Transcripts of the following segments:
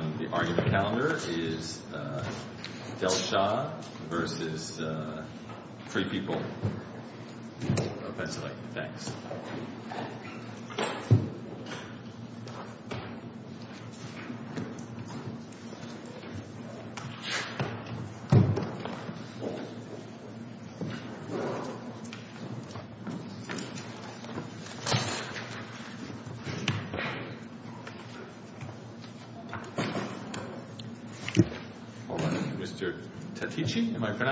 Delshah 60 Ninth, LLC v. Free People of PA Mark Tetici, Appellant,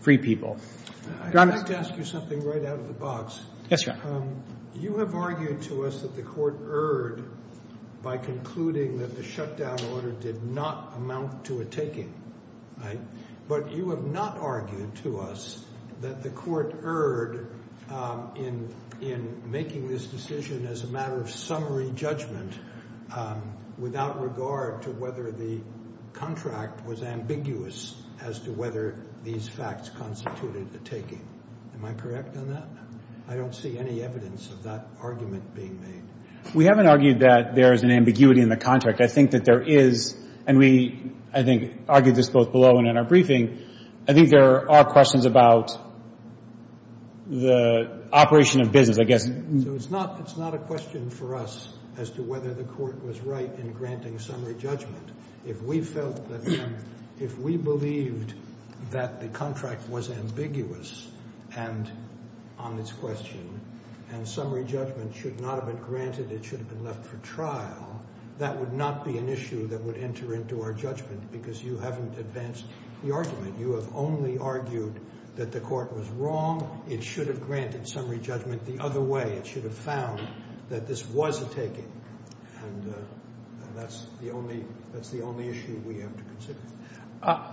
Free People I'd like to ask you something right out of the box. Yes, Your Honor. You have argued to us that the Court erred by concluding that the shutdown order did not amount to a taking. But you have not argued to us that the Court erred in making this decision as a matter of summary judgment without regard to whether the contract was ambiguous as to whether these facts constituted a taking. Am I correct on that? I don't see any evidence of that argument being made. We haven't argued that there is an ambiguity in the contract. I think that there is. And we, I think, argued this both below and in our briefing. I think there are questions about the operation of business, I guess. So it's not a question for us as to whether the Court was right in granting summary judgment. If we felt that, if we believed that the contract was ambiguous and on its question and summary judgment should not have been granted, it should have been left for trial, that would not be an issue that would enter into our judgment because you haven't advanced the argument. You have only argued that the Court was wrong. It should have granted summary judgment the other way. It should have found that this was a taking. And that's the only, that's the only issue we have to consider.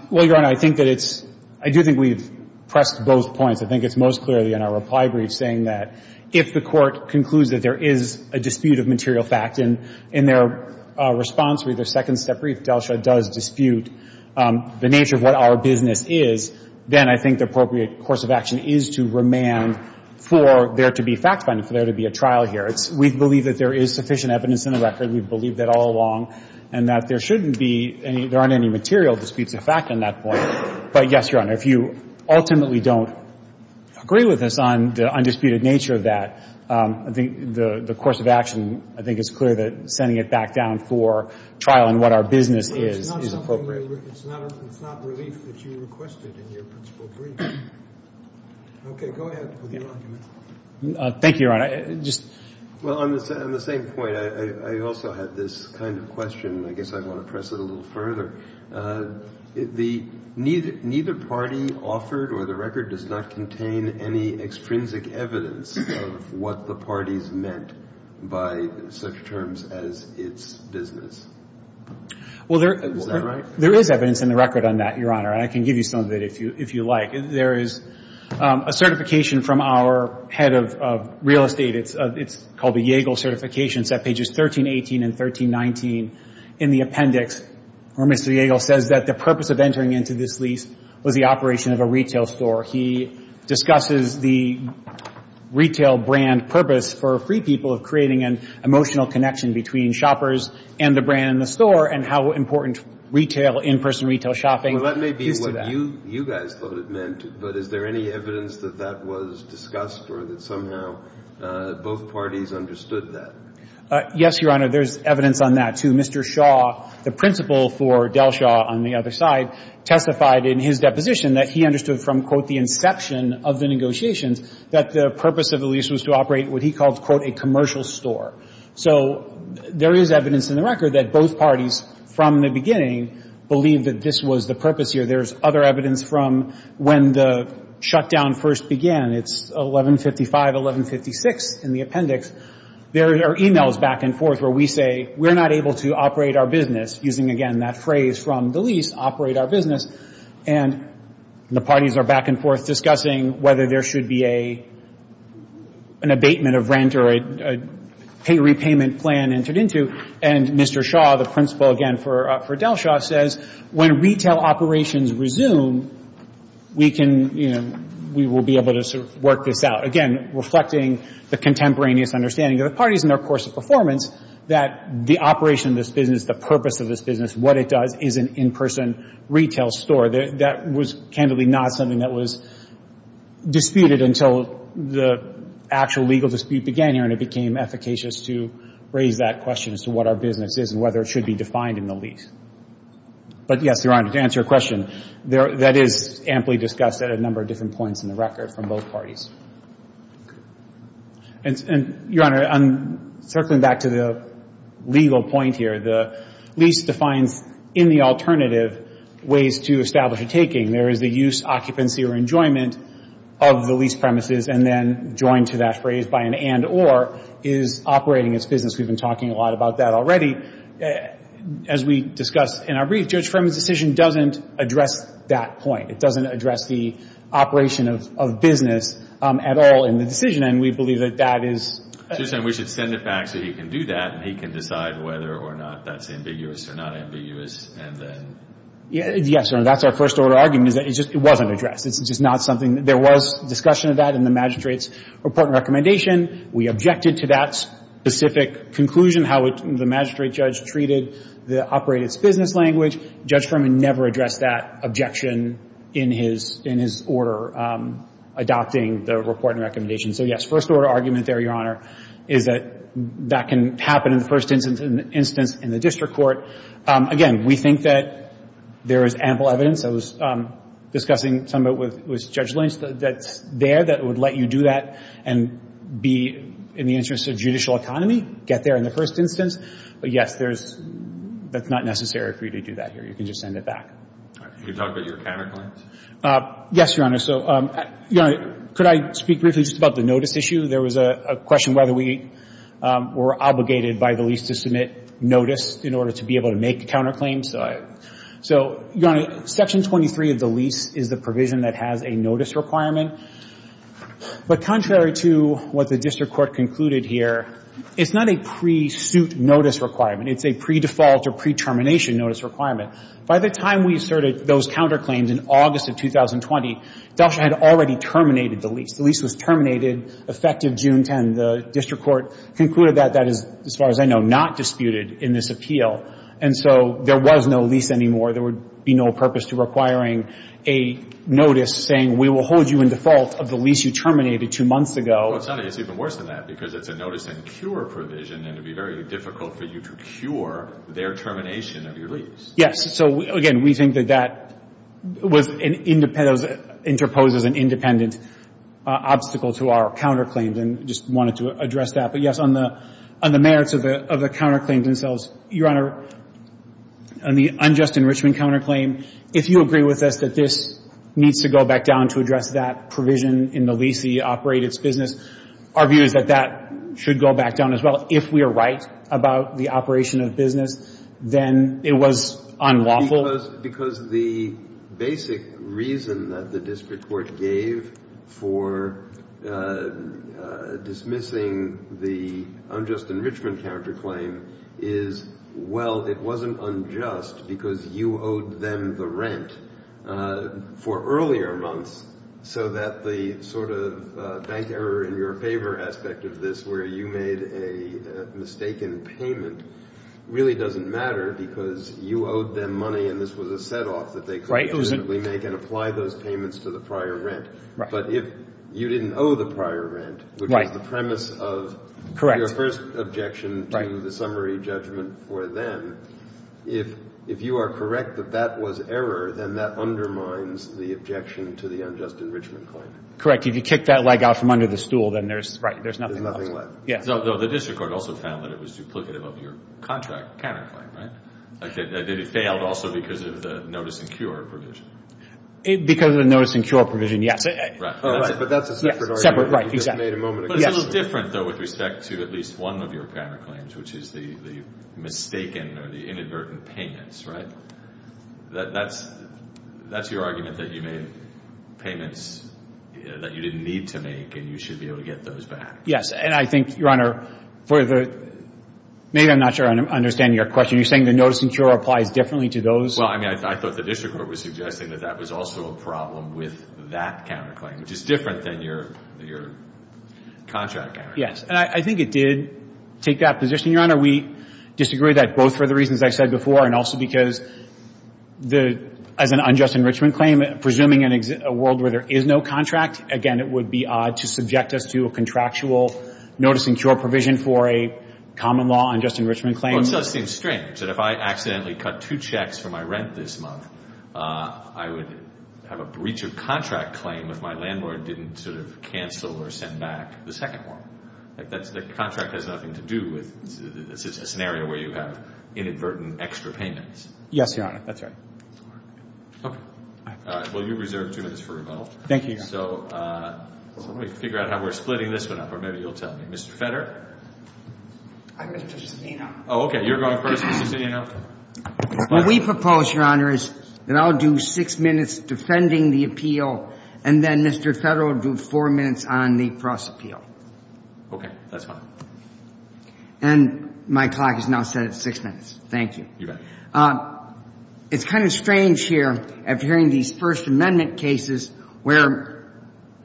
Well, Your Honor, I think that it's, I do think we've pressed both points. I think it's most clearly in our reply brief saying that if the Court concludes that there is a dispute of material fact, and in their response, with their second step brief, Delsha does dispute the nature of what our business is, then I think the appropriate course of action is to remand for there to be fact-finding, for there to be a trial here. It's, we believe that there is sufficient evidence in the record, we've believed that all along, and that there shouldn't be any, there aren't any material disputes of fact in that point. But yes, Your Honor, if you ultimately don't agree with us on the undisputed nature of that, I think the course of action, I think it's clear that sending it back down for trial and what our business is, is appropriate. But it's not something that, it's not a, it's not relief that you requested in your principle brief. Okay. Go ahead with your argument. Thank you, Your Honor. Well, on the same point, I also have this kind of question. I guess I want to press it a little further. The neither party offered or the record does not contain any extrinsic evidence of what the parties meant by such terms as its business. Is that right? Well, there is evidence in the record on that, Your Honor, and I can give you some of it if you like. There is a certification from our head of real estate. It's called the Yagle certification. It's at pages 1318 and 1319 in the appendix where Mr. Yagle says that the purpose of entering into this lease was the operation of a retail store. He discusses the retail brand purpose for free people of creating an emotional connection between shoppers and the brand in the store and how important retail, in-person retail shopping is to that. Now, you guys thought it meant, but is there any evidence that that was discussed or that somehow both parties understood that? Yes, Your Honor. There's evidence on that, too. Mr. Shaw, the principal for Delshaw on the other side, testified in his deposition that he understood from, quote, the inception of the negotiations that the purpose of the lease was to operate what he called, quote, a commercial store. So there is evidence in the record that both parties from the beginning believed that this was the purpose here. There's other evidence from when the shutdown first began. It's 1155, 1156 in the appendix. There are e-mails back and forth where we say we're not able to operate our business, using, again, that phrase from the lease, operate our business. And the parties are back and forth discussing whether there should be an abatement of rent or a repayment plan entered into. And Mr. Shaw, the principal again for Delshaw, says when retail operations resume, we can, you know, we will be able to sort of work this out. Again, reflecting the contemporaneous understanding of the parties and their course of performance, that the operation of this business, the purpose of this business, what it does is an in-person retail store. That was candidly not something that was disputed until the actual legal dispute began here, and it became efficacious to raise that question as to what our business is and whether it should be defined in the lease. But, yes, Your Honor, to answer your question, that is amply discussed at a number of different points in the record from both parties. And, Your Honor, circling back to the legal point here, the lease defines in the alternative ways to establish a taking. There is the use, occupancy, or enjoyment of the lease premises, and then joined to that phrase by an and-or is operating its business. We've been talking a lot about that already. As we discussed in our brief, Judge Ferman's decision doesn't address that point. It doesn't address the operation of business at all in the decision, and we believe that that is... So you're saying we should send it back so he can do that, and he can decide whether or not that's ambiguous or not ambiguous, and then... Yes, Your Honor. That's our first-order argument is that it just wasn't addressed. It's just not something... There was discussion of that in the magistrate's report and recommendation. We objected to that specific conclusion, how the magistrate judge treated the operate-its-business language. Judge Ferman never addressed that objection in his order adopting the report and recommendation. So, yes, first-order argument there, Your Honor, is that that can happen in the first instance in the district court. Again, we think that there is ample evidence. I was discussing some of it with Judge Lynch that's there that would let you do that and be in the interest of judicial economy, get there in the first instance. But, yes, there's — that's not necessary for you to do that here. You can just send it back. All right. Can you talk about your counterclaims? Yes, Your Honor. So, Your Honor, could I speak briefly just about the notice issue? There was a question whether we were obligated by the lease to submit notice in order to be able to make counterclaims. So, Your Honor, Section 23 of the lease is the provision that has a notice requirement. But contrary to what the district court concluded here, it's not a pre-suit notice requirement. It's a pre-default or pre-termination notice requirement. By the time we asserted those counterclaims in August of 2020, Delsh had already terminated the lease. The lease was terminated effective June 10. The district court concluded that. That is, as far as I know, not disputed in this appeal. And so there was no lease anymore. There would be no purpose to requiring a notice saying, we will hold you in default of the lease you terminated two months ago. Well, it's even worse than that, because it's a notice and cure provision, and it would be very difficult for you to cure their termination of your lease. Yes. So, again, we think that that was — interposes an independent obstacle to our counterclaims and just wanted to address that. But, yes, on the merits of the counterclaims themselves, Your Honor, on the unjust enrichment counterclaim, if you agree with us that this needs to go back down to address that provision in the lease that you operate its business, our view is that that should go back down as well. If we are right about the operation of business, then it was unlawful. Because the basic reason that the district court gave for dismissing the unjust enrichment counterclaim is, well, it wasn't unjust because you owed them the rent for earlier months, so that the sort of bank error in your favor aspect of this, where you made a mistaken payment, really doesn't matter because you owed them money and this was a set-off that they could legitimately make and apply those payments to the prior rent. But if you didn't owe the prior rent, which was the premise of your first objection to the summary judgment for them, if you are correct that that was error, then that undermines the objection to the unjust enrichment claim. Correct. If you kick that leg out from under the stool, then there's — Yes. Though the district court also found that it was duplicative of your contract counterclaim, right? That it failed also because of the notice and cure provision. Because of the notice and cure provision, yes. Right. But that's a separate argument. Separate, right. Exactly. But it's a little different, though, with respect to at least one of your counterclaims, which is the mistaken or the inadvertent payments, right? That's your argument that you made payments that you didn't need to make and you should be able to get those back. And I think, Your Honor, for the — maybe I'm not sure I understand your question. You're saying the notice and cure applies differently to those? Well, I mean, I thought the district court was suggesting that that was also a problem with that counterclaim, which is different than your contract counterclaim. Yes. And I think it did take that position, Your Honor. We disagree with that both for the reasons I said before and also because the — as an unjust enrichment claim, presuming a world where there is no contract, again, it would be odd to subject us to a contractual notice and cure provision for a common law unjust enrichment claim. Well, it does seem strange that if I accidentally cut two checks for my rent this month, I would have a breach of contract claim if my landlord didn't sort of cancel or send back the second one. Like, that's — the contract has nothing to do with a scenario where you have inadvertent extra payments. Yes, Your Honor. That's right. Okay. All right. Well, you're reserved two minutes for rebuttal. Thank you, Your Honor. So let me figure out how we're splitting this one up, or maybe you'll tell me. Mr. Feder? I'm Mr. Cicinino. Oh, okay. You're going first, Mr. Cicinino. What we propose, Your Honor, is that I'll do six minutes defending the appeal, and then Mr. Feder will do four minutes on the cross-appeal. Okay. That's fine. And my clock is now set at six minutes. Thank you. You bet. It's kind of strange here, after hearing these First Amendment cases, where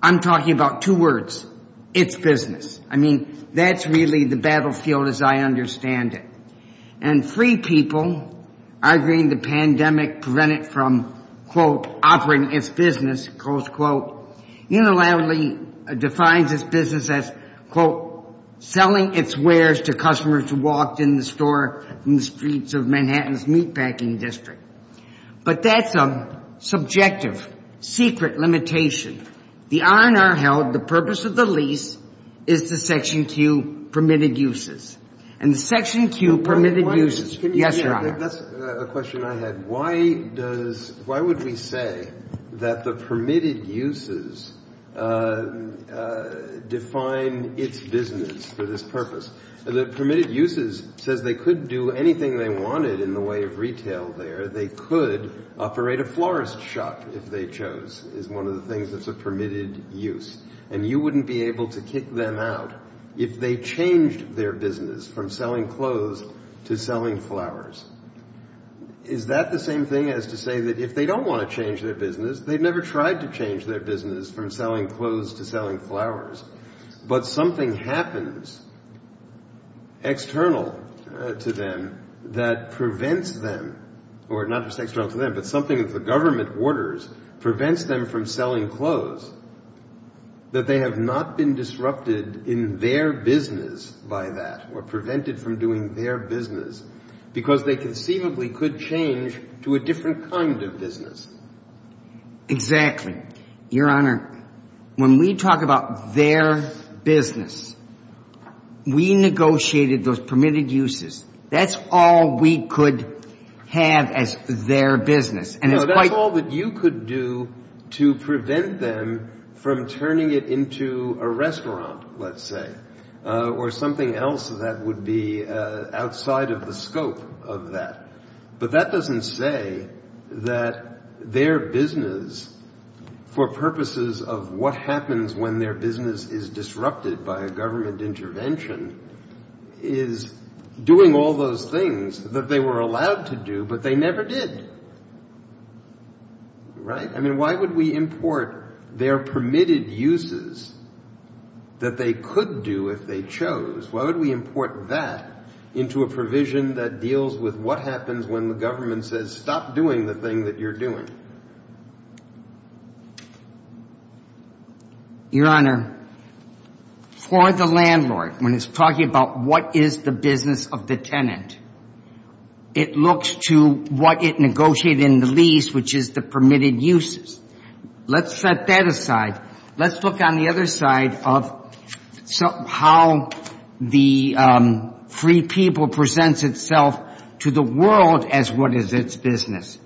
I'm talking about two words, it's business. I mean, that's really the battlefield as I understand it. And free people, arguing the pandemic prevented from, quote, operating its business, close quote, unilaterally defines its business as, quote, selling its wares to customers who are in the Manhattan's Meatpacking District. But that's a subjective, secret limitation. The R&R held, the purpose of the lease is to Section Q permitted uses. And the Section Q permitted uses, yes, Your Honor? That's a question I had. Why does — why would we say that the permitted uses define its business for this purpose? The permitted uses says they could do anything they wanted in the way of retail there. They could operate a florist shop if they chose, is one of the things that's a permitted use. And you wouldn't be able to kick them out if they changed their business from selling clothes to selling flowers. Is that the same thing as to say that if they don't want to change their business, they never tried to change their business from selling clothes to selling flowers, but something happens external to them that prevents them, or not just external to them, but something that the government orders prevents them from selling clothes, that they have not been disrupted in their business by that, or prevented from doing their business, because they conceivably could change to a different kind of business. Exactly. Your Honor, when we talk about their business, we negotiated those permitted uses. That's all we could have as their business. And it's quite — No, that's all that you could do to prevent them from turning it into a restaurant, let's say, or something else that would be outside of the scope of that. But that doesn't say that their business, for purposes of what happens when their business is disrupted by a government intervention, is doing all those things that they were allowed to do, but they never did. Right? I mean, why would we import their permitted uses that they could do if they chose? Why would we import that into a provision that deals with what happens when the government says, stop doing the thing that you're doing? Your Honor, for the landlord, when it's talking about what is the business of the tenant, it looks to what it negotiated in the lease, which is the permitted uses. Let's set that aside. Let's look on the other side of how the free people presents itself to the world as what is its business.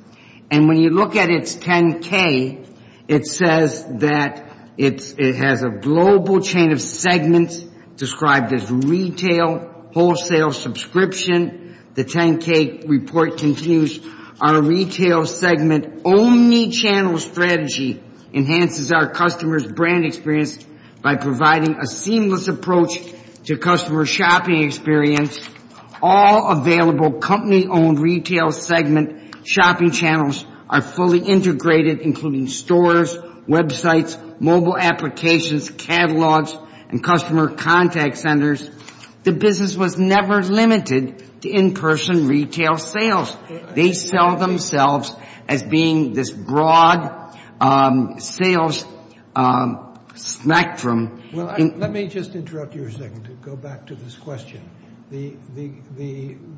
And when you look at its 10-K, it says that it has a global chain of segments described as retail, wholesale, subscription. The 10-K report continues. Our retail segment only channel strategy enhances our customers' brand experience by providing a seamless approach to customer shopping experience. All available company-owned retail segment shopping channels are fully integrated, including stores, websites, mobile applications, catalogs, and customer contact centers. The business was never limited to in-person retail sales. They sell themselves as being this broad sales spectrum. Well, let me just interrupt you a second to go back to this question. The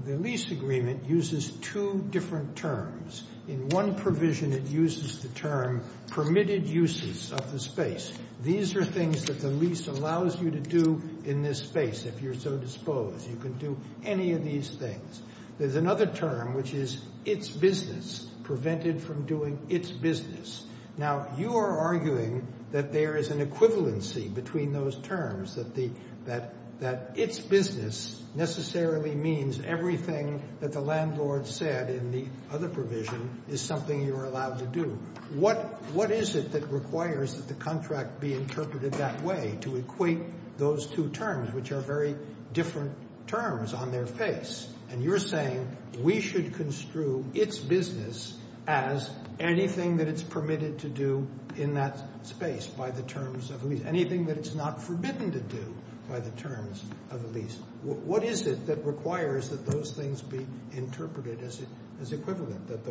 lease agreement uses two different terms. In one provision, it uses the term permitted uses of the space. These are things that the lease allows you to do in this space if you're so disposed. You can do any of these things. There's another term, which is its business, prevented from doing its business. Now, you are arguing that there is an equivalency between those terms, that its business necessarily means everything that the landlord said in the other provision is something you're allowed to do. What is it that requires that the contract be interpreted that way to equate those two terms, which are very different terms on their face? And you're saying we should construe its business as anything that it's permitted to do in that space by the terms of the lease, anything that it's not forbidden to do by the terms of the lease. What is it that requires that those things be interpreted as equivalent, that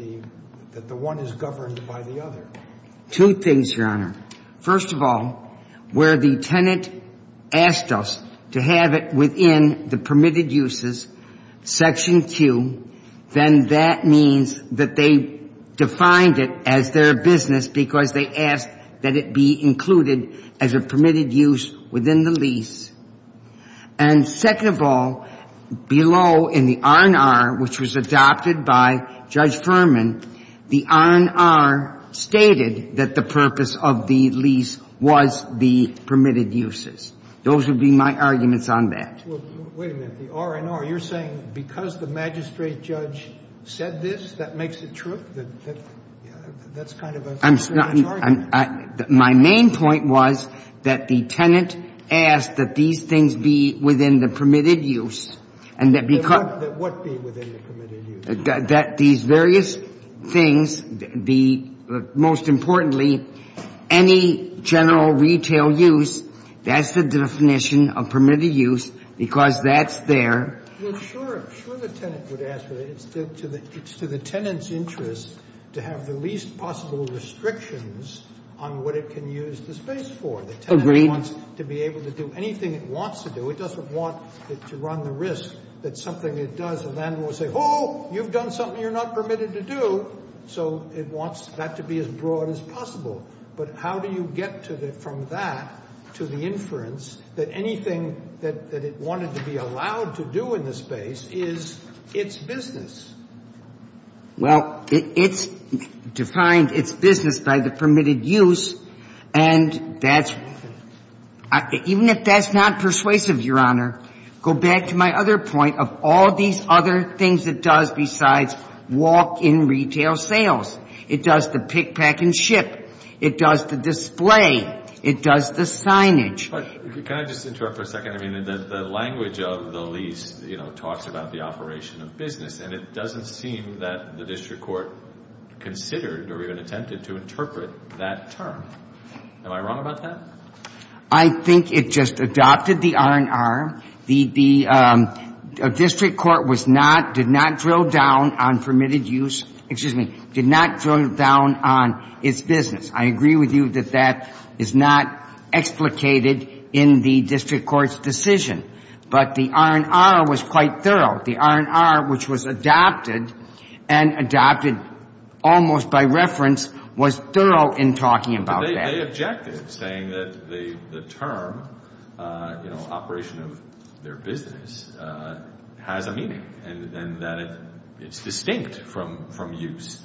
the one is governed by the other? Two things, Your Honor. First of all, where the tenant asked us to have it within the permitted uses section Q, then that means that they defined it as their business because they asked that it be included as a permitted use within the lease. And second of all, below in the R&R, which was adopted by Judge Furman, the R&R stated that the purpose of the lease was the permitted uses. Those would be my arguments on that. Wait a minute. The R&R, you're saying because the magistrate judge said this, that makes it true? That's kind of an arbitrary argument. My main point was that the tenant asked that these things be within the permitted use, and that because of the question. What be within the permitted use? That these various things be, most importantly, any general retail use, that's the definition of permitted use because that's there. Well, sure. I'm sure the tenant would ask for it. It's to the tenant's interest to have the least possible restrictions on what it can use the space for. Agreed. The tenant wants to be able to do anything it wants to do. It doesn't want to run the risk that something it does, the landlord will say, oh, you're doing something you're not permitted to do. So it wants that to be as broad as possible. But how do you get from that to the inference that anything that it wanted to be allowed to do in the space is its business? Well, it's defined its business by the permitted use, and that's — even if that's not persuasive, Your Honor, go back to my other point of all these other things it does besides walk-in retail sales. It does the pick, pack, and ship. It does the display. It does the signage. But can I just interrupt for a second? I mean, the language of the lease, you know, talks about the operation of business, and it doesn't seem that the district court considered or even attempted to interpret that term. Am I wrong about that? I think it just adopted the R&R. The district court was not — did not drill down on permitted use — excuse me, did not drill down on its business. I agree with you that that is not explicated in the district court's decision. But the R&R was quite thorough. The R&R, which was adopted, and adopted almost by reference, was thorough in talking about that. They objected, saying that the term, you know, operation of their business, has a meaning and that it's distinct from use,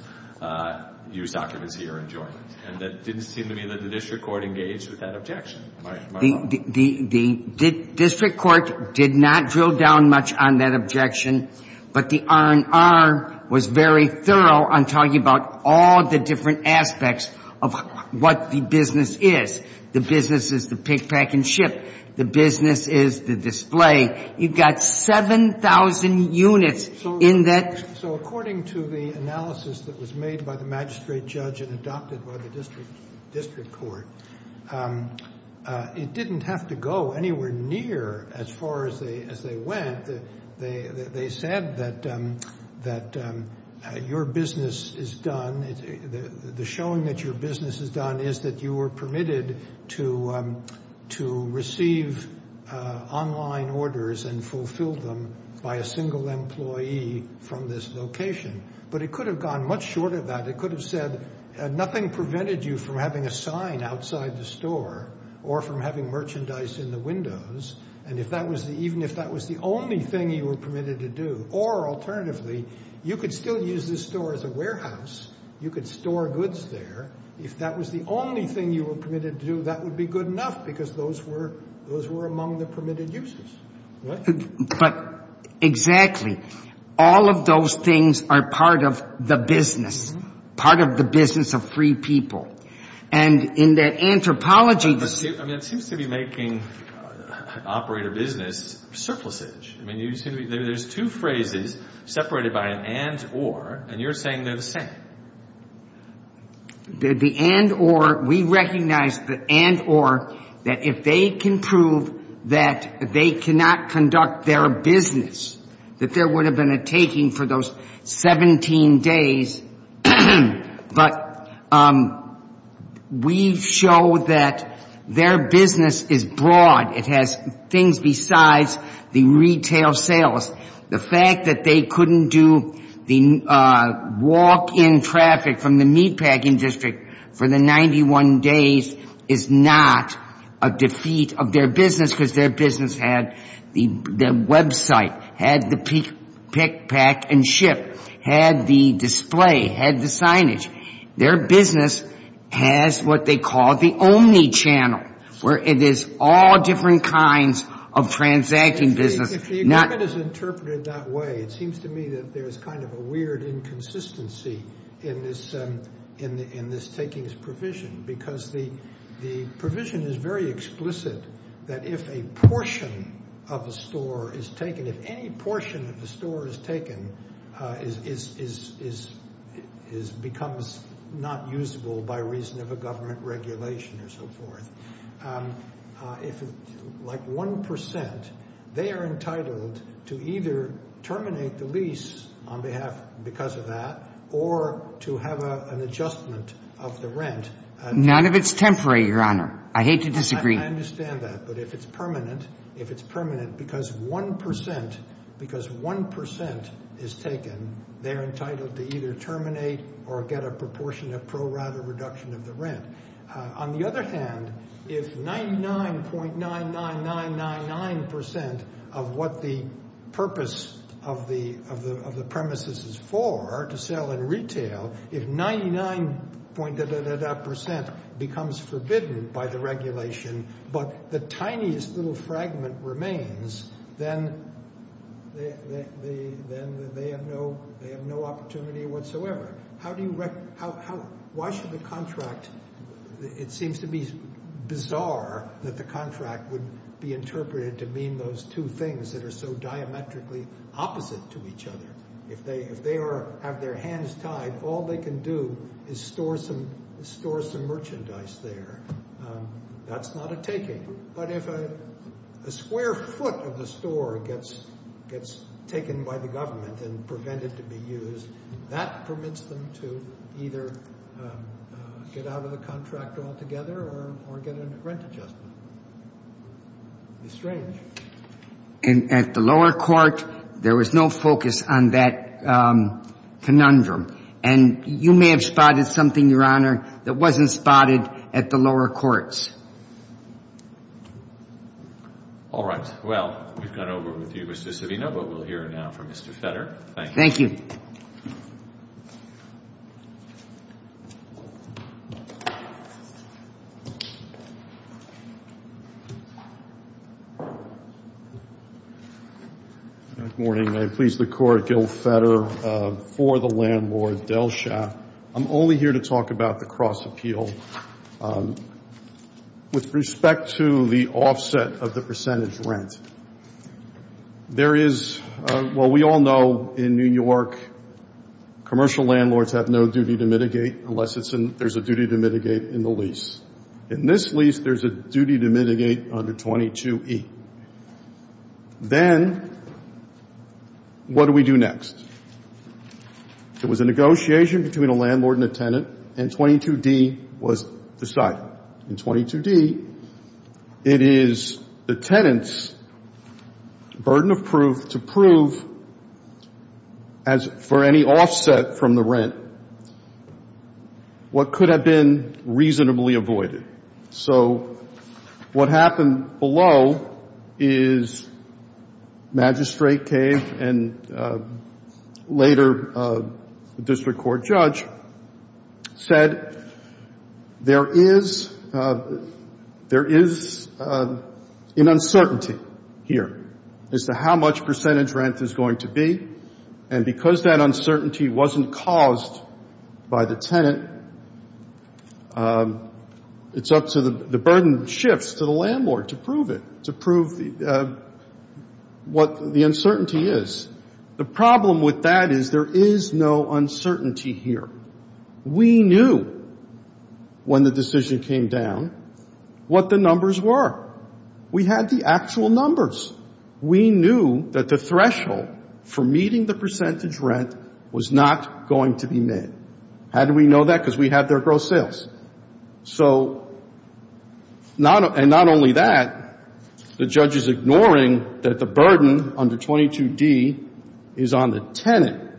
use occupancy or enjoyment. And that didn't seem to me that the district court engaged with that objection. Am I wrong? The district court did not drill down much on that objection, but the R&R was very thorough in talking about the different aspects of what the business is. The business is the pick, pack, and ship. The business is the display. You've got 7,000 units in that. So according to the analysis that was made by the magistrate judge and adopted by the district court, it didn't have to go anywhere near as far as they went. They said that your business is done, the showing that your business is done is that you were permitted to receive online orders and fulfill them by a single employee from this location. But it could have gone much shorter than that. It could have said nothing prevented you from having a sign outside the store or from having merchandise in the windows. And even if that was the only thing you were permitted to do, or alternatively, you could still use the store as a warehouse. You could store goods there. If that was the only thing you were permitted to do, that would be good enough because those were among the permitted uses. But exactly, all of those things are part of the business, part of the business of free people. And in that anthropology... I mean, it seems to be making operator business surplusage. I mean, there's two phrases separated by an and or, and you're saying they're the same. The and or, we recognize the and or that if they can prove that they cannot conduct their business, that there would have been a taking for those 17 days. But we show that their business is broad. It has things besides the retail sales. The fact that they couldn't do the walk-in traffic from the meatpacking district for the 91 days is not a defeat of their business because their business had the website, had the pick, pack, and ship, had the display, had the signage. Their business has what they call the only channel, where it is all different kinds of transacting business. If the agreement is interpreted that way, it seems to me that there's kind of a weird inconsistency in this takings provision because the provision is very explicit that if a portion of a store is taken, if any portion of the store is taken, it becomes not usable by reason of a government regulation or so forth. If like 1%, they are entitled to either terminate the lease on behalf, because of that, or to have an adjustment of the rent. None of it's temporary, Your Honor. I hate to disagree. I understand that. But if it's permanent, if it's permanent because 1%, because 1% is taken, they're entitled to either terminate or get a proportionate pro-rata reduction of the rent. On the other hand, if 99.99999% of what the purpose of the premises is for, to sell in retail, if 99.99999% becomes forbidden by the regulation, but the tiniest little fragment remains, then they have no opportunity whatsoever. Why should the contract, it seems to be bizarre that the contract would be interpreted to mean those two things that are so diametrically opposite to each other. If they have their hands tied, all they can do is store some merchandise there. That's not a taking. But if a square foot of the store gets taken by the government and prevented to be used, that permits them to either get out of the contract altogether or get a rent adjustment. It's strange. And at the lower court, there was no focus on that conundrum. And you may have spotted something, Your Honor, that wasn't spotted at the lower courts. All right. Well, we've gone over with you, Mr. Savino, but we'll hear now from Mr. Fetter. Thank you. Thank you. Good morning. I please the Court, Gil Fetter, for the landlord, Delsha. I'm only here to talk about the cross-appeal. With respect to the offset of the percentage rent, there is, well, we all know in New York, commercial landlords have no duty to mitigate unless there's a duty to mitigate in the lease. In this lease, there's a duty to mitigate under 22E. Then what do we do next? There was a negotiation between a landlord and a tenant, and 22D was decided. In 22D, it is the tenant's burden of proof to prove for any offset from the rent what could have been reasonably avoided. So what happened below is magistrate came and later the district court judge said there is an uncertainty here as to how much percentage rent is going to be. And because that uncertainty wasn't caused by the tenant, it's up to the burden shifts to the landlord to prove it, to prove what the uncertainty is. The problem with that is there is no uncertainty here. We knew when the decision came down what the numbers were. We had the actual numbers. We knew that the threshold for meeting the percentage rent was not going to be met. How do we know that? Because we have their gross sales. So not only that, the judge is ignoring that the burden under 22D is on the tenant,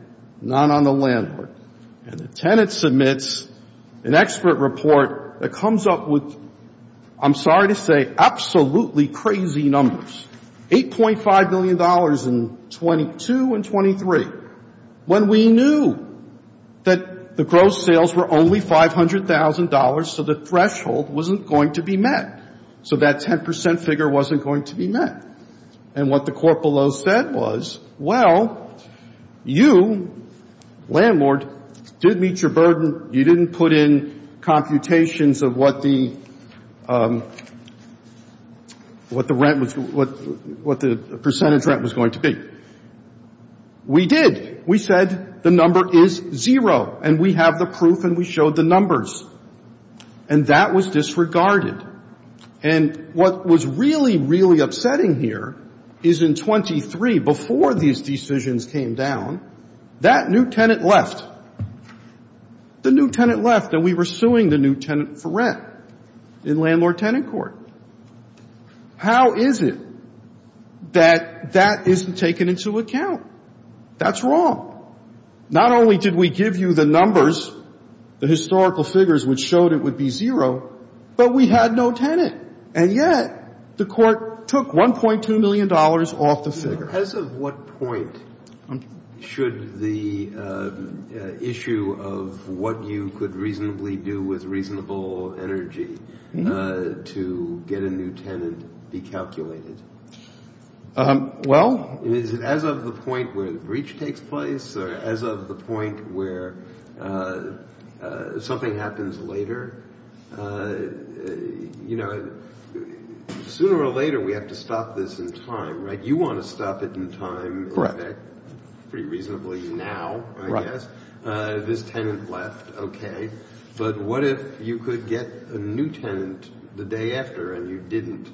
not on the landlord. And the tenant submits an expert report that comes up with, I'm sorry to say, absolutely crazy numbers, $8.5 million in 22 and 23. When we knew that the gross sales were only $500,000, so the threshold wasn't going to be met. So that 10 percent figure wasn't going to be met. And what the court below said was, well, you, landlord, did meet your burden. You didn't put in computations of what the rent was, what the percentage rent was going to be. We did. We said the number is zero, and we have the proof, and we showed the numbers. And that was disregarded. And what was really, really upsetting here is in 23, before these decisions came down, that new tenant left. The new tenant left, and we were suing the new tenant for rent in Landlord-Tenant Court. How is it that that isn't taken into account? That's wrong. Not only did we give you the numbers, the historical figures, which showed it would be zero, but we had no tenant. And yet the court took $1.2 million off the figure. As of what point should the issue of what you could reasonably do with reasonable energy to get a new tenant be calculated? Well. Is it as of the point where the breach takes place or as of the point where something happens later? You know, sooner or later we have to stop this in time, right? You want to stop it in time. Pretty reasonably now, I guess. Right. This tenant left, okay. But what if you could get a new tenant the day after and you didn't?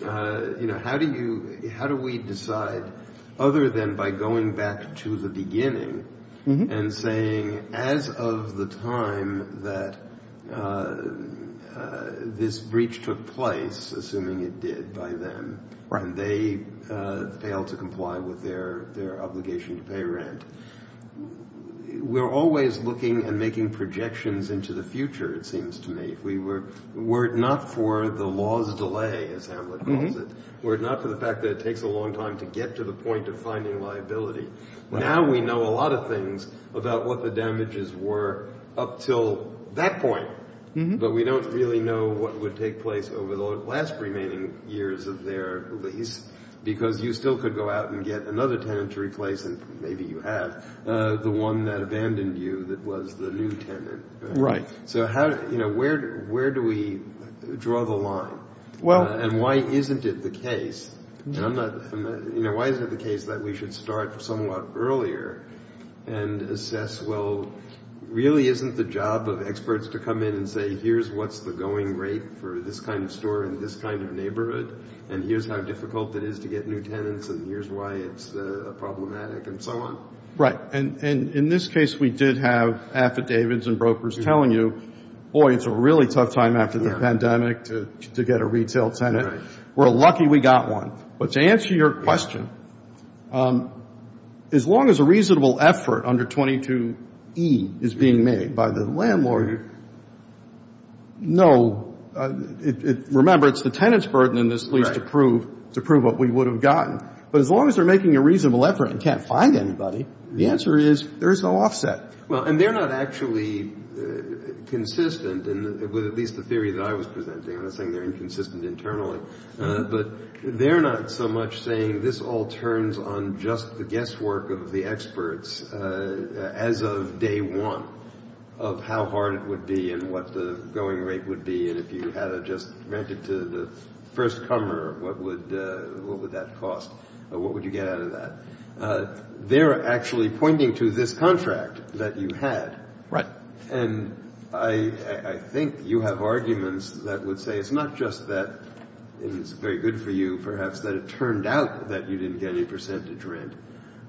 You know, how do we decide other than by going back to the beginning and saying, as of the time that this breach took place, assuming it did by then, and they failed to comply with their obligation to pay rent? We're always looking and making projections into the future, it seems to me. Were it not for the law's delay, as Hamlet calls it, were it not for the fact that it takes a long time to get to the point of finding liability, now we know a lot of things about what the damages were up until that point, but we don't really know what would take place over the last remaining years of their lease, because you still could go out and get another tenant to replace, and maybe you have, the one that abandoned you that was the new tenant. Right. So where do we draw the line, and why isn't it the case that we should start somewhat earlier and assess, well, really isn't the job of experts to come in and say, here's what's the going rate for this kind of store in this kind of neighborhood, and here's how difficult it is to get new tenants, and here's why it's problematic, and so on? Right. And in this case, we did have affidavits and brokers telling you, boy, it's a really tough time after the pandemic to get a retail tenant. We're lucky we got one. But to answer your question, as long as a reasonable effort under 22E is being made by the landlord, no. Remember, it's the tenant's burden in this lease to prove what we would have gotten. But as long as they're making a reasonable effort and can't find anybody, the answer is there is no offset. Well, and they're not actually consistent with at least the theory that I was presenting. I'm not saying they're inconsistent internally. But they're not so much saying this all turns on just the guesswork of the experts as of day one of how hard it would be and what the going rate would be, and if you had to just rent it to the first comer, what would that cost? What would you get out of that? They're actually pointing to this contract that you had. Right. And I think you have arguments that would say it's not just that it's very good for you, perhaps, that it turned out that you didn't get any percentage rent,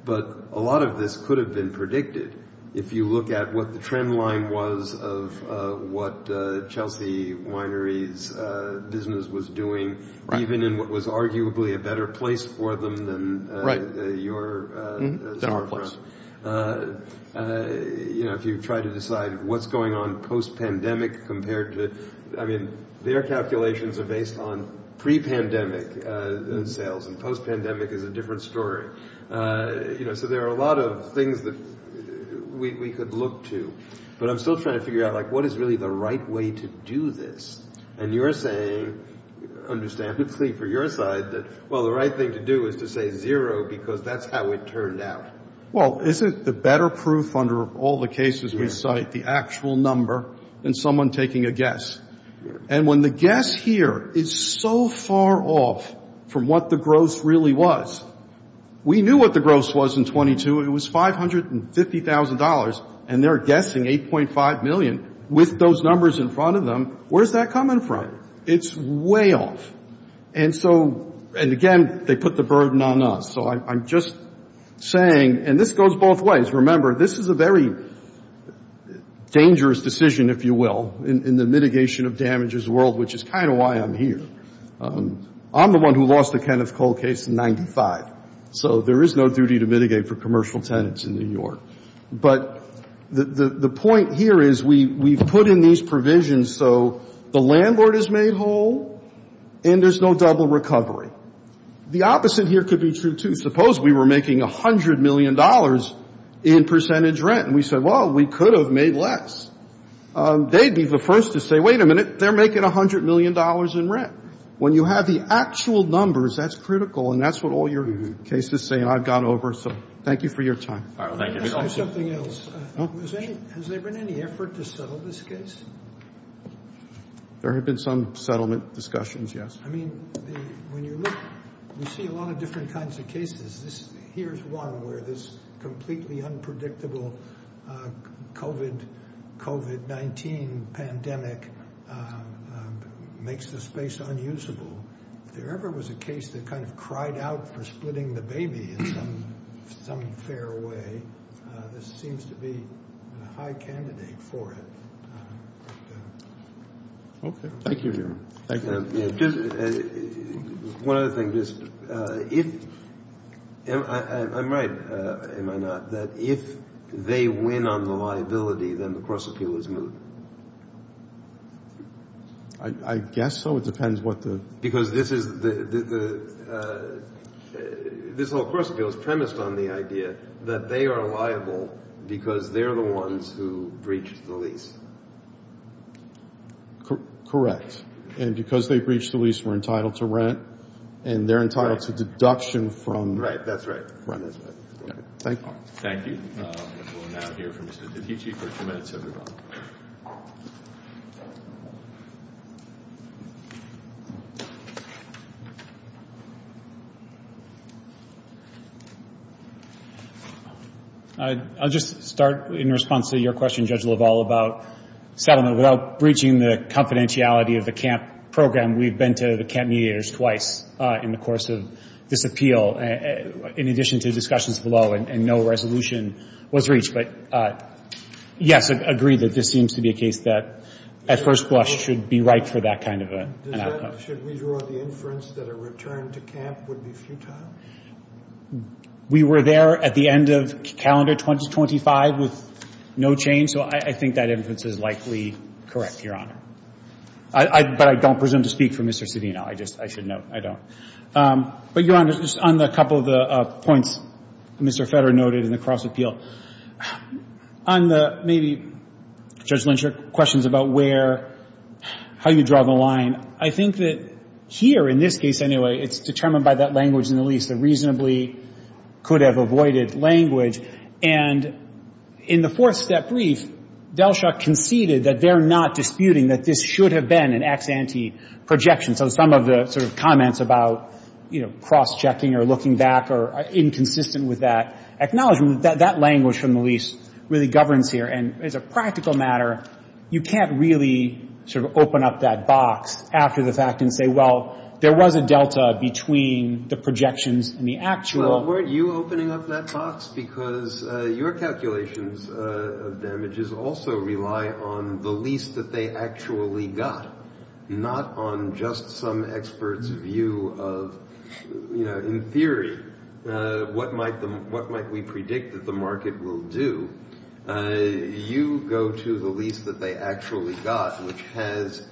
but a lot of this could have been predicted. If you look at what the trend line was of what Chelsea Winery's business was doing, even in what was arguably a better place for them than your storefront. You know, if you try to decide what's going on post-pandemic compared to, I mean, their calculations are based on pre-pandemic sales, and post-pandemic is a different story. You know, so there are a lot of things that we could look to. But I'm still trying to figure out, like, what is really the right way to do this? And you're saying, understandably for your side, that, well, the right thing to do is to say zero because that's how it turned out. Well, isn't the better proof under all the cases we cite the actual number and someone taking a guess? And when the guess here is so far off from what the gross really was, we knew what the gross was in 22. It was $550,000, and they're guessing $8.5 million. With those numbers in front of them, where's that coming from? It's way off. And so, and again, they put the burden on us. So I'm just saying, and this goes both ways. Remember, this is a very dangerous decision, if you will, in the mitigation of damages world, which is kind of why I'm here. I'm the one who lost the Kenneth Cole case in 95. So there is no duty to mitigate for commercial tenants in New York. But the point here is we've put in these provisions so the landlord is made whole and there's no double recovery. The opposite here could be true, too. Suppose we were making $100 million in percentage rent, and we said, well, we could have made less. They'd be the first to say, wait a minute, they're making $100 million in rent. When you have the actual numbers, that's critical, and that's what all your cases say, and I've gone over. So thank you for your time. All right. Thank you. Let me ask you something else. Has there been any effort to settle this case? There have been some settlement discussions, yes. I mean, when you look, you see a lot of different kinds of cases. Here's one where this completely unpredictable COVID-19 pandemic makes the space unusable. If there ever was a case that kind of cried out for splitting the baby in some fair way, this seems to be a high candidate for it. Okay. Thank you. One other thing. I'm right, am I not, that if they win on the liability, then the cross appeal is moot? I guess so. It depends what the – Because this is the – this whole cross appeal is premised on the idea that they are liable because they're the ones who breached the lease. Correct. And because they breached the lease, we're entitled to rent, and they're entitled to deduction from rent. Right. That's right. Thank you. Thank you. We'll now hear from Mr. DiPicci for a few minutes. Thanks, everyone. I'll just start in response to your question, Judge LaValle, about settlement. Without breaching the confidentiality of the CAMP program, we've been to the CAMP mediators twice in the course of this appeal, in addition to discussions below, and no resolution was reached. But, yes, I agree that this seems to be a case that at first blush should be right for that kind of an outcome. Should we draw the inference that a return to CAMP would be futile? We were there at the end of calendar 2025 with no change, so I think that inference is likely correct, Your Honor. But I don't presume to speak for Mr. Cedeno. I just – I should know. I don't. But, Your Honor, just on a couple of the points Mr. Federer noted in the cross-appeal, on the maybe, Judge Lindstrom, questions about where – how you draw the line, I think that here, in this case anyway, it's determined by that language in the lease that reasonably could have avoided language. And in the fourth-step brief, Delshaw conceded that they're not disputing that this should have been an ex ante projection. So some of the sort of comments about, you know, cross-checking or looking back are inconsistent with that. Acknowledging that that language from the lease really governs here. And as a practical matter, you can't really sort of open up that box after the fact and say, well, there was a delta between the projections and the actual. Well, weren't you opening up that box? Because your calculations of damages also rely on the lease that they actually got, not on just some expert's view of, you know, in theory, what might we predict that the market will do. You go to the lease that they actually got, which has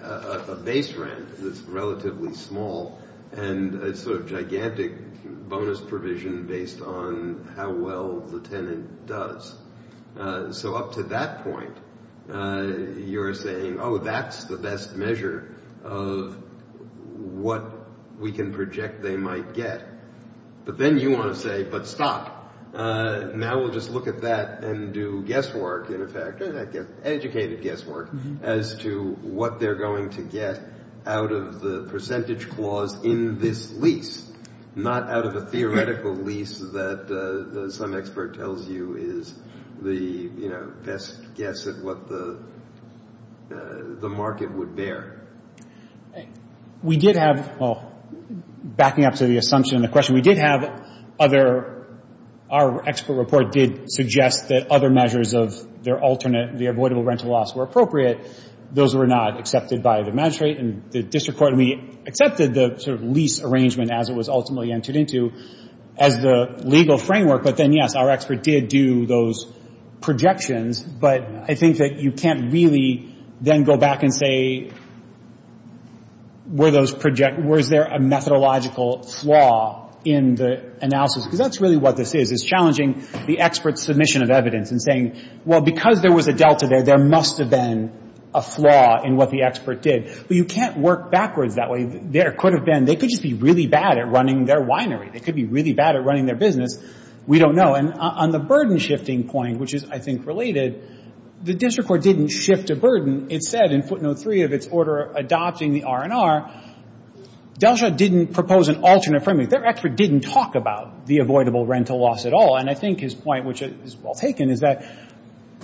a base rent that's relatively small and a sort of gigantic bonus provision based on how well the tenant does. So up to that point, you're saying, oh, that's the best measure of what we can project they might get. But then you want to say, but stop. Now we'll just look at that and do guesswork, in effect, educated guesswork, as to what they're going to get out of the percentage clause in this lease, not out of a theoretical lease that some expert tells you is the, you know, best guess at what the market would bear. We did have, well, backing up to the assumption and the question, we did have other, our expert report did suggest that other measures of their alternate, the avoidable rental loss were appropriate. Those were not accepted by the magistrate and the district court. And we accepted the sort of lease arrangement as it was ultimately entered into as the legal framework. But then, yes, our expert did do those projections. But I think that you can't really then go back and say, were those project, was there a methodological flaw in the analysis? Because that's really what this is, is challenging the expert's submission of evidence and saying, well, because there was a delta there, there must have been a flaw in what the expert did. But you can't work backwards that way. There could have been, they could just be really bad at running their winery. They could be really bad at running their business. We don't know. And on the burden shifting point, which is, I think, related, the district court didn't shift a burden. It said in footnote three of its order adopting the R&R, Delsha didn't propose an alternate framework. Their expert didn't talk about the avoidable rental loss at all. And I think his point, which is well taken, is that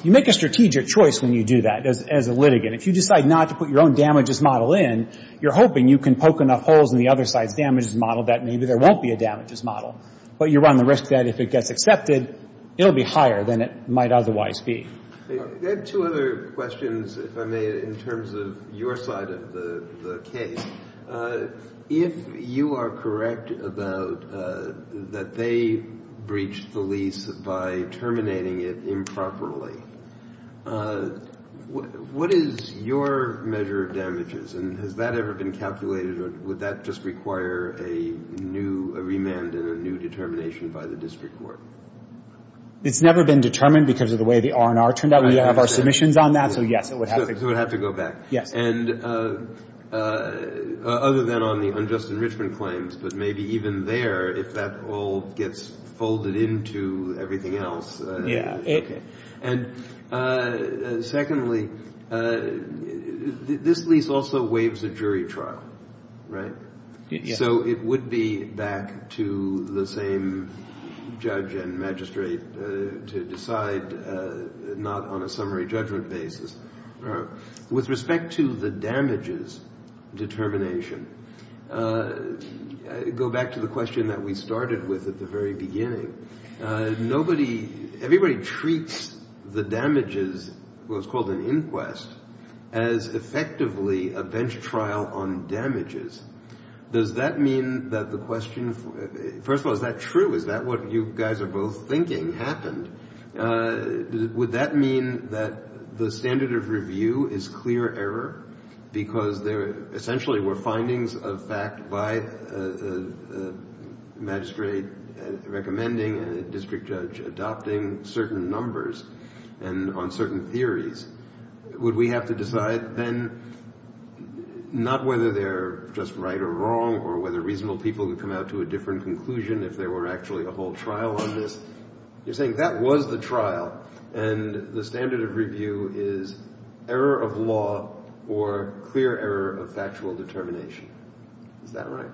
you make a strategic choice when you do that as a litigant. If you decide not to put your own damages model in, you're hoping you can poke enough holes in the other side's damages model that maybe there won't be a damages model. But you run the risk that if it gets accepted, it will be higher than it might otherwise be. I have two other questions, if I may, in terms of your side of the case. If you are correct about that they breached the lease by terminating it improperly, what is your measure of damages? And has that ever been calculated, or would that just require a new, a remand and a new determination by the district court? It's never been determined because of the way the R&R turned out. We have our submissions on that, so yes, it would have to go back. So it would have to go back. Yes. And other than on the unjust enrichment claims, but maybe even there, if that all gets folded into everything else. Yeah. Okay. And secondly, this lease also waives a jury trial, right? Yes. So it would be back to the same judge and magistrate to decide not on a summary judgment basis. All right. With respect to the damages determination, go back to the question that we started with at the very beginning. Nobody – everybody treats the damages, what was called an inquest, as effectively a bench trial on damages. Does that mean that the question – first of all, is that true? Is that what you guys are both thinking happened? Would that mean that the standard of review is clear error because there essentially were findings of fact by a magistrate recommending and a district judge adopting certain numbers and on certain theories? Would we have to decide then not whether they're just right or wrong or whether reasonable people could come out to a different conclusion if there were actually a whole trial on this? You're saying that was the trial, and the standard of review is error of law or clear error of factual determination. Is that right?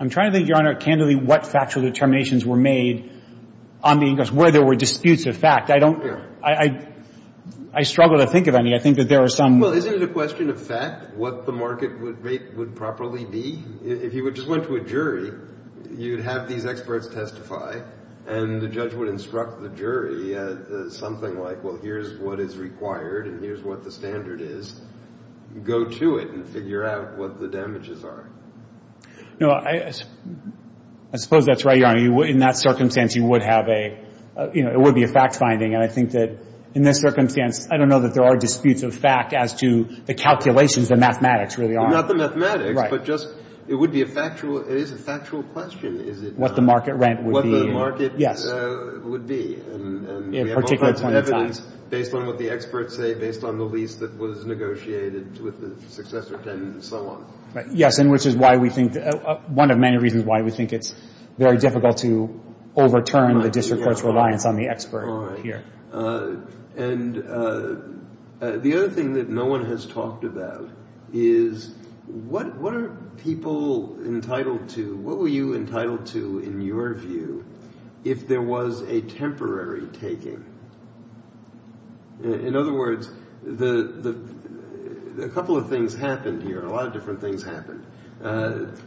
I'm trying to think, Your Honor, candidly, what factual determinations were made on the inquest, where there were disputes of fact. I don't – I struggle to think of any. I think that there are some – Well, isn't it a question of fact what the market rate would properly be? If you just went to a jury, you'd have these experts testify, and the judge would instruct the jury something like, well, here's what is required and here's what the standard is. Go to it and figure out what the damages are. No, I suppose that's right, Your Honor. In that circumstance, you would have a – you know, it would be a fact-finding. And I think that in this circumstance, I don't know that there are disputes of fact as to the calculations, the mathematics really are. Not the mathematics, but just it would be a factual – it is a factual question, is it not? What the market rent would be. What the market would be. And we have all kinds of evidence based on what the experts say, based on the lease that was negotiated with the successor tenants and so on. Yes, and which is why we think – one of many reasons why we think it's very difficult to overturn the district court's reliance on the expert here. All right. And the other thing that no one has talked about is what are people entitled to – what were you entitled to in your view if there was a temporary taking? In other words, a couple of things happened here. A lot of different things happened.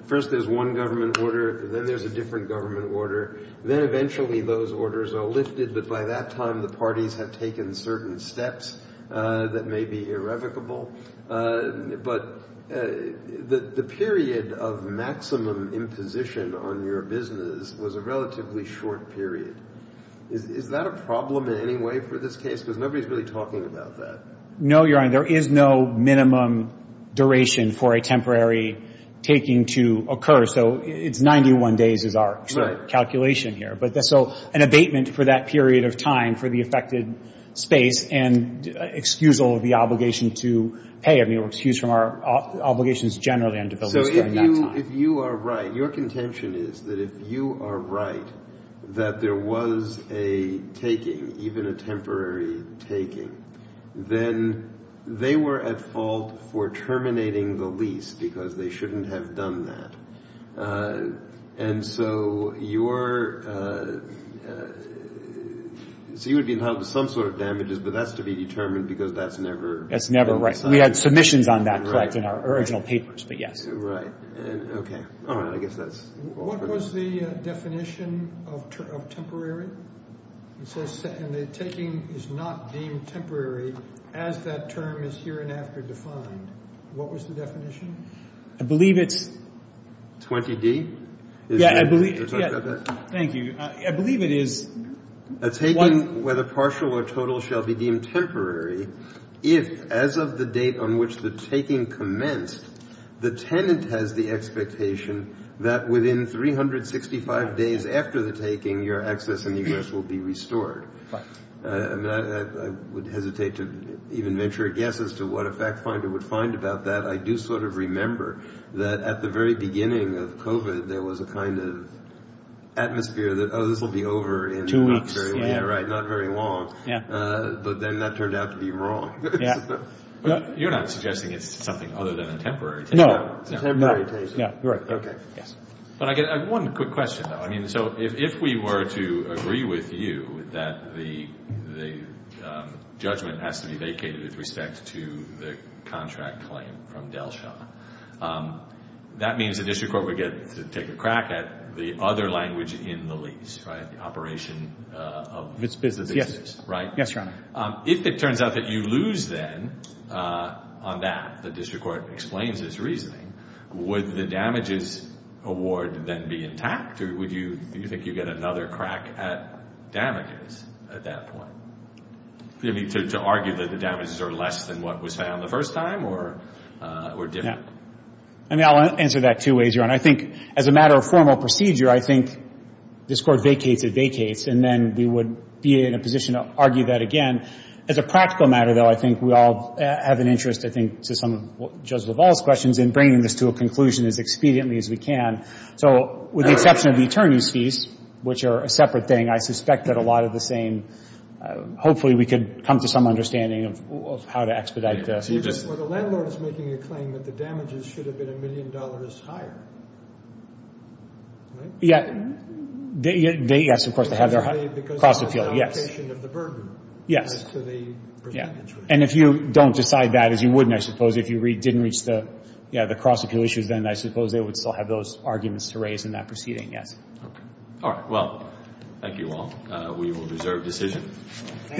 First, there's one government order. Then there's a different government order. Then eventually those orders are lifted, but by that time the parties have taken certain steps that may be irrevocable. But the period of maximum imposition on your business was a relatively short period. Is that a problem in any way for this case? Because nobody's really talking about that. No, Your Honor. There is no minimum duration for a temporary taking to occur. So it's 91 days is our calculation here. So an abatement for that period of time for the affected space and excusal of the obligation to pay, I mean, or excuse from our obligations generally under the bill was during that time. If you are right, your contention is that if you are right that there was a taking, even a temporary taking, then they were at fault for terminating the lease because they shouldn't have done that. So you would be entitled to some sort of damages, but that's to be determined because that's never – That's never, right. We had submissions on that, correct, in our original papers, but yes. Right. Okay. All right. I guess that's – What was the definition of temporary? It says the taking is not deemed temporary as that term is hereinafter defined. What was the definition? I believe it's – 20D? Yeah, I believe – Is that correct? Thank you. I believe it is – A taking, whether partial or total, shall be deemed temporary if as of the date on which the taking commenced, the tenant has the expectation that within 365 days after the taking, your access and egress will be restored. Right. I would hesitate to even venture a guess as to what a fact finder would find about that. I do sort of remember that at the very beginning of COVID, there was a kind of atmosphere that, oh, this will be over in – Yeah, right, not very long. Yeah. But then that turned out to be wrong. Yeah. You're not suggesting it's something other than a temporary taking? No. Temporary taking. Right. Okay. Yes. But I get one quick question, though. I mean, so if we were to agree with you that the judgment has to be vacated with respect to the contract claim from Delsha, that means the district court would get to take a crack at the other language in the lease, right, the operation of the business. Yes, Your Honor. If it turns out that you lose then on that, the district court explains its reasoning, would the damages award then be intact or would you think you get another crack at damages at that point? Do you mean to argue that the damages are less than what was found the first time or different? Yeah. I mean, I'll answer that two ways, Your Honor. I think as a matter of formal procedure, I think this Court vacates, it vacates, and then we would be in a position to argue that again. As a practical matter, though, I think we all have an interest, I think, to some of Judge LaValle's questions in bringing this to a conclusion as expediently as we can. So with the exception of the attorney's fees, which are a separate thing, I suspect that a lot of the same, hopefully we could come to some understanding of how to expedite this. You're just, well, the landlord is making a claim that the damages should have been a million dollars higher. Right? Yeah. Yes, of course, they have their cross-appeal. Because of the allocation of the burden. Yes. And if you don't decide that, as you wouldn't, I suppose, if you didn't reach the cross-appeal issues, then I suppose they would still have those arguments to raise in that proceeding, yes. All right. Well, thank you all. We will reserve decision. Thank you.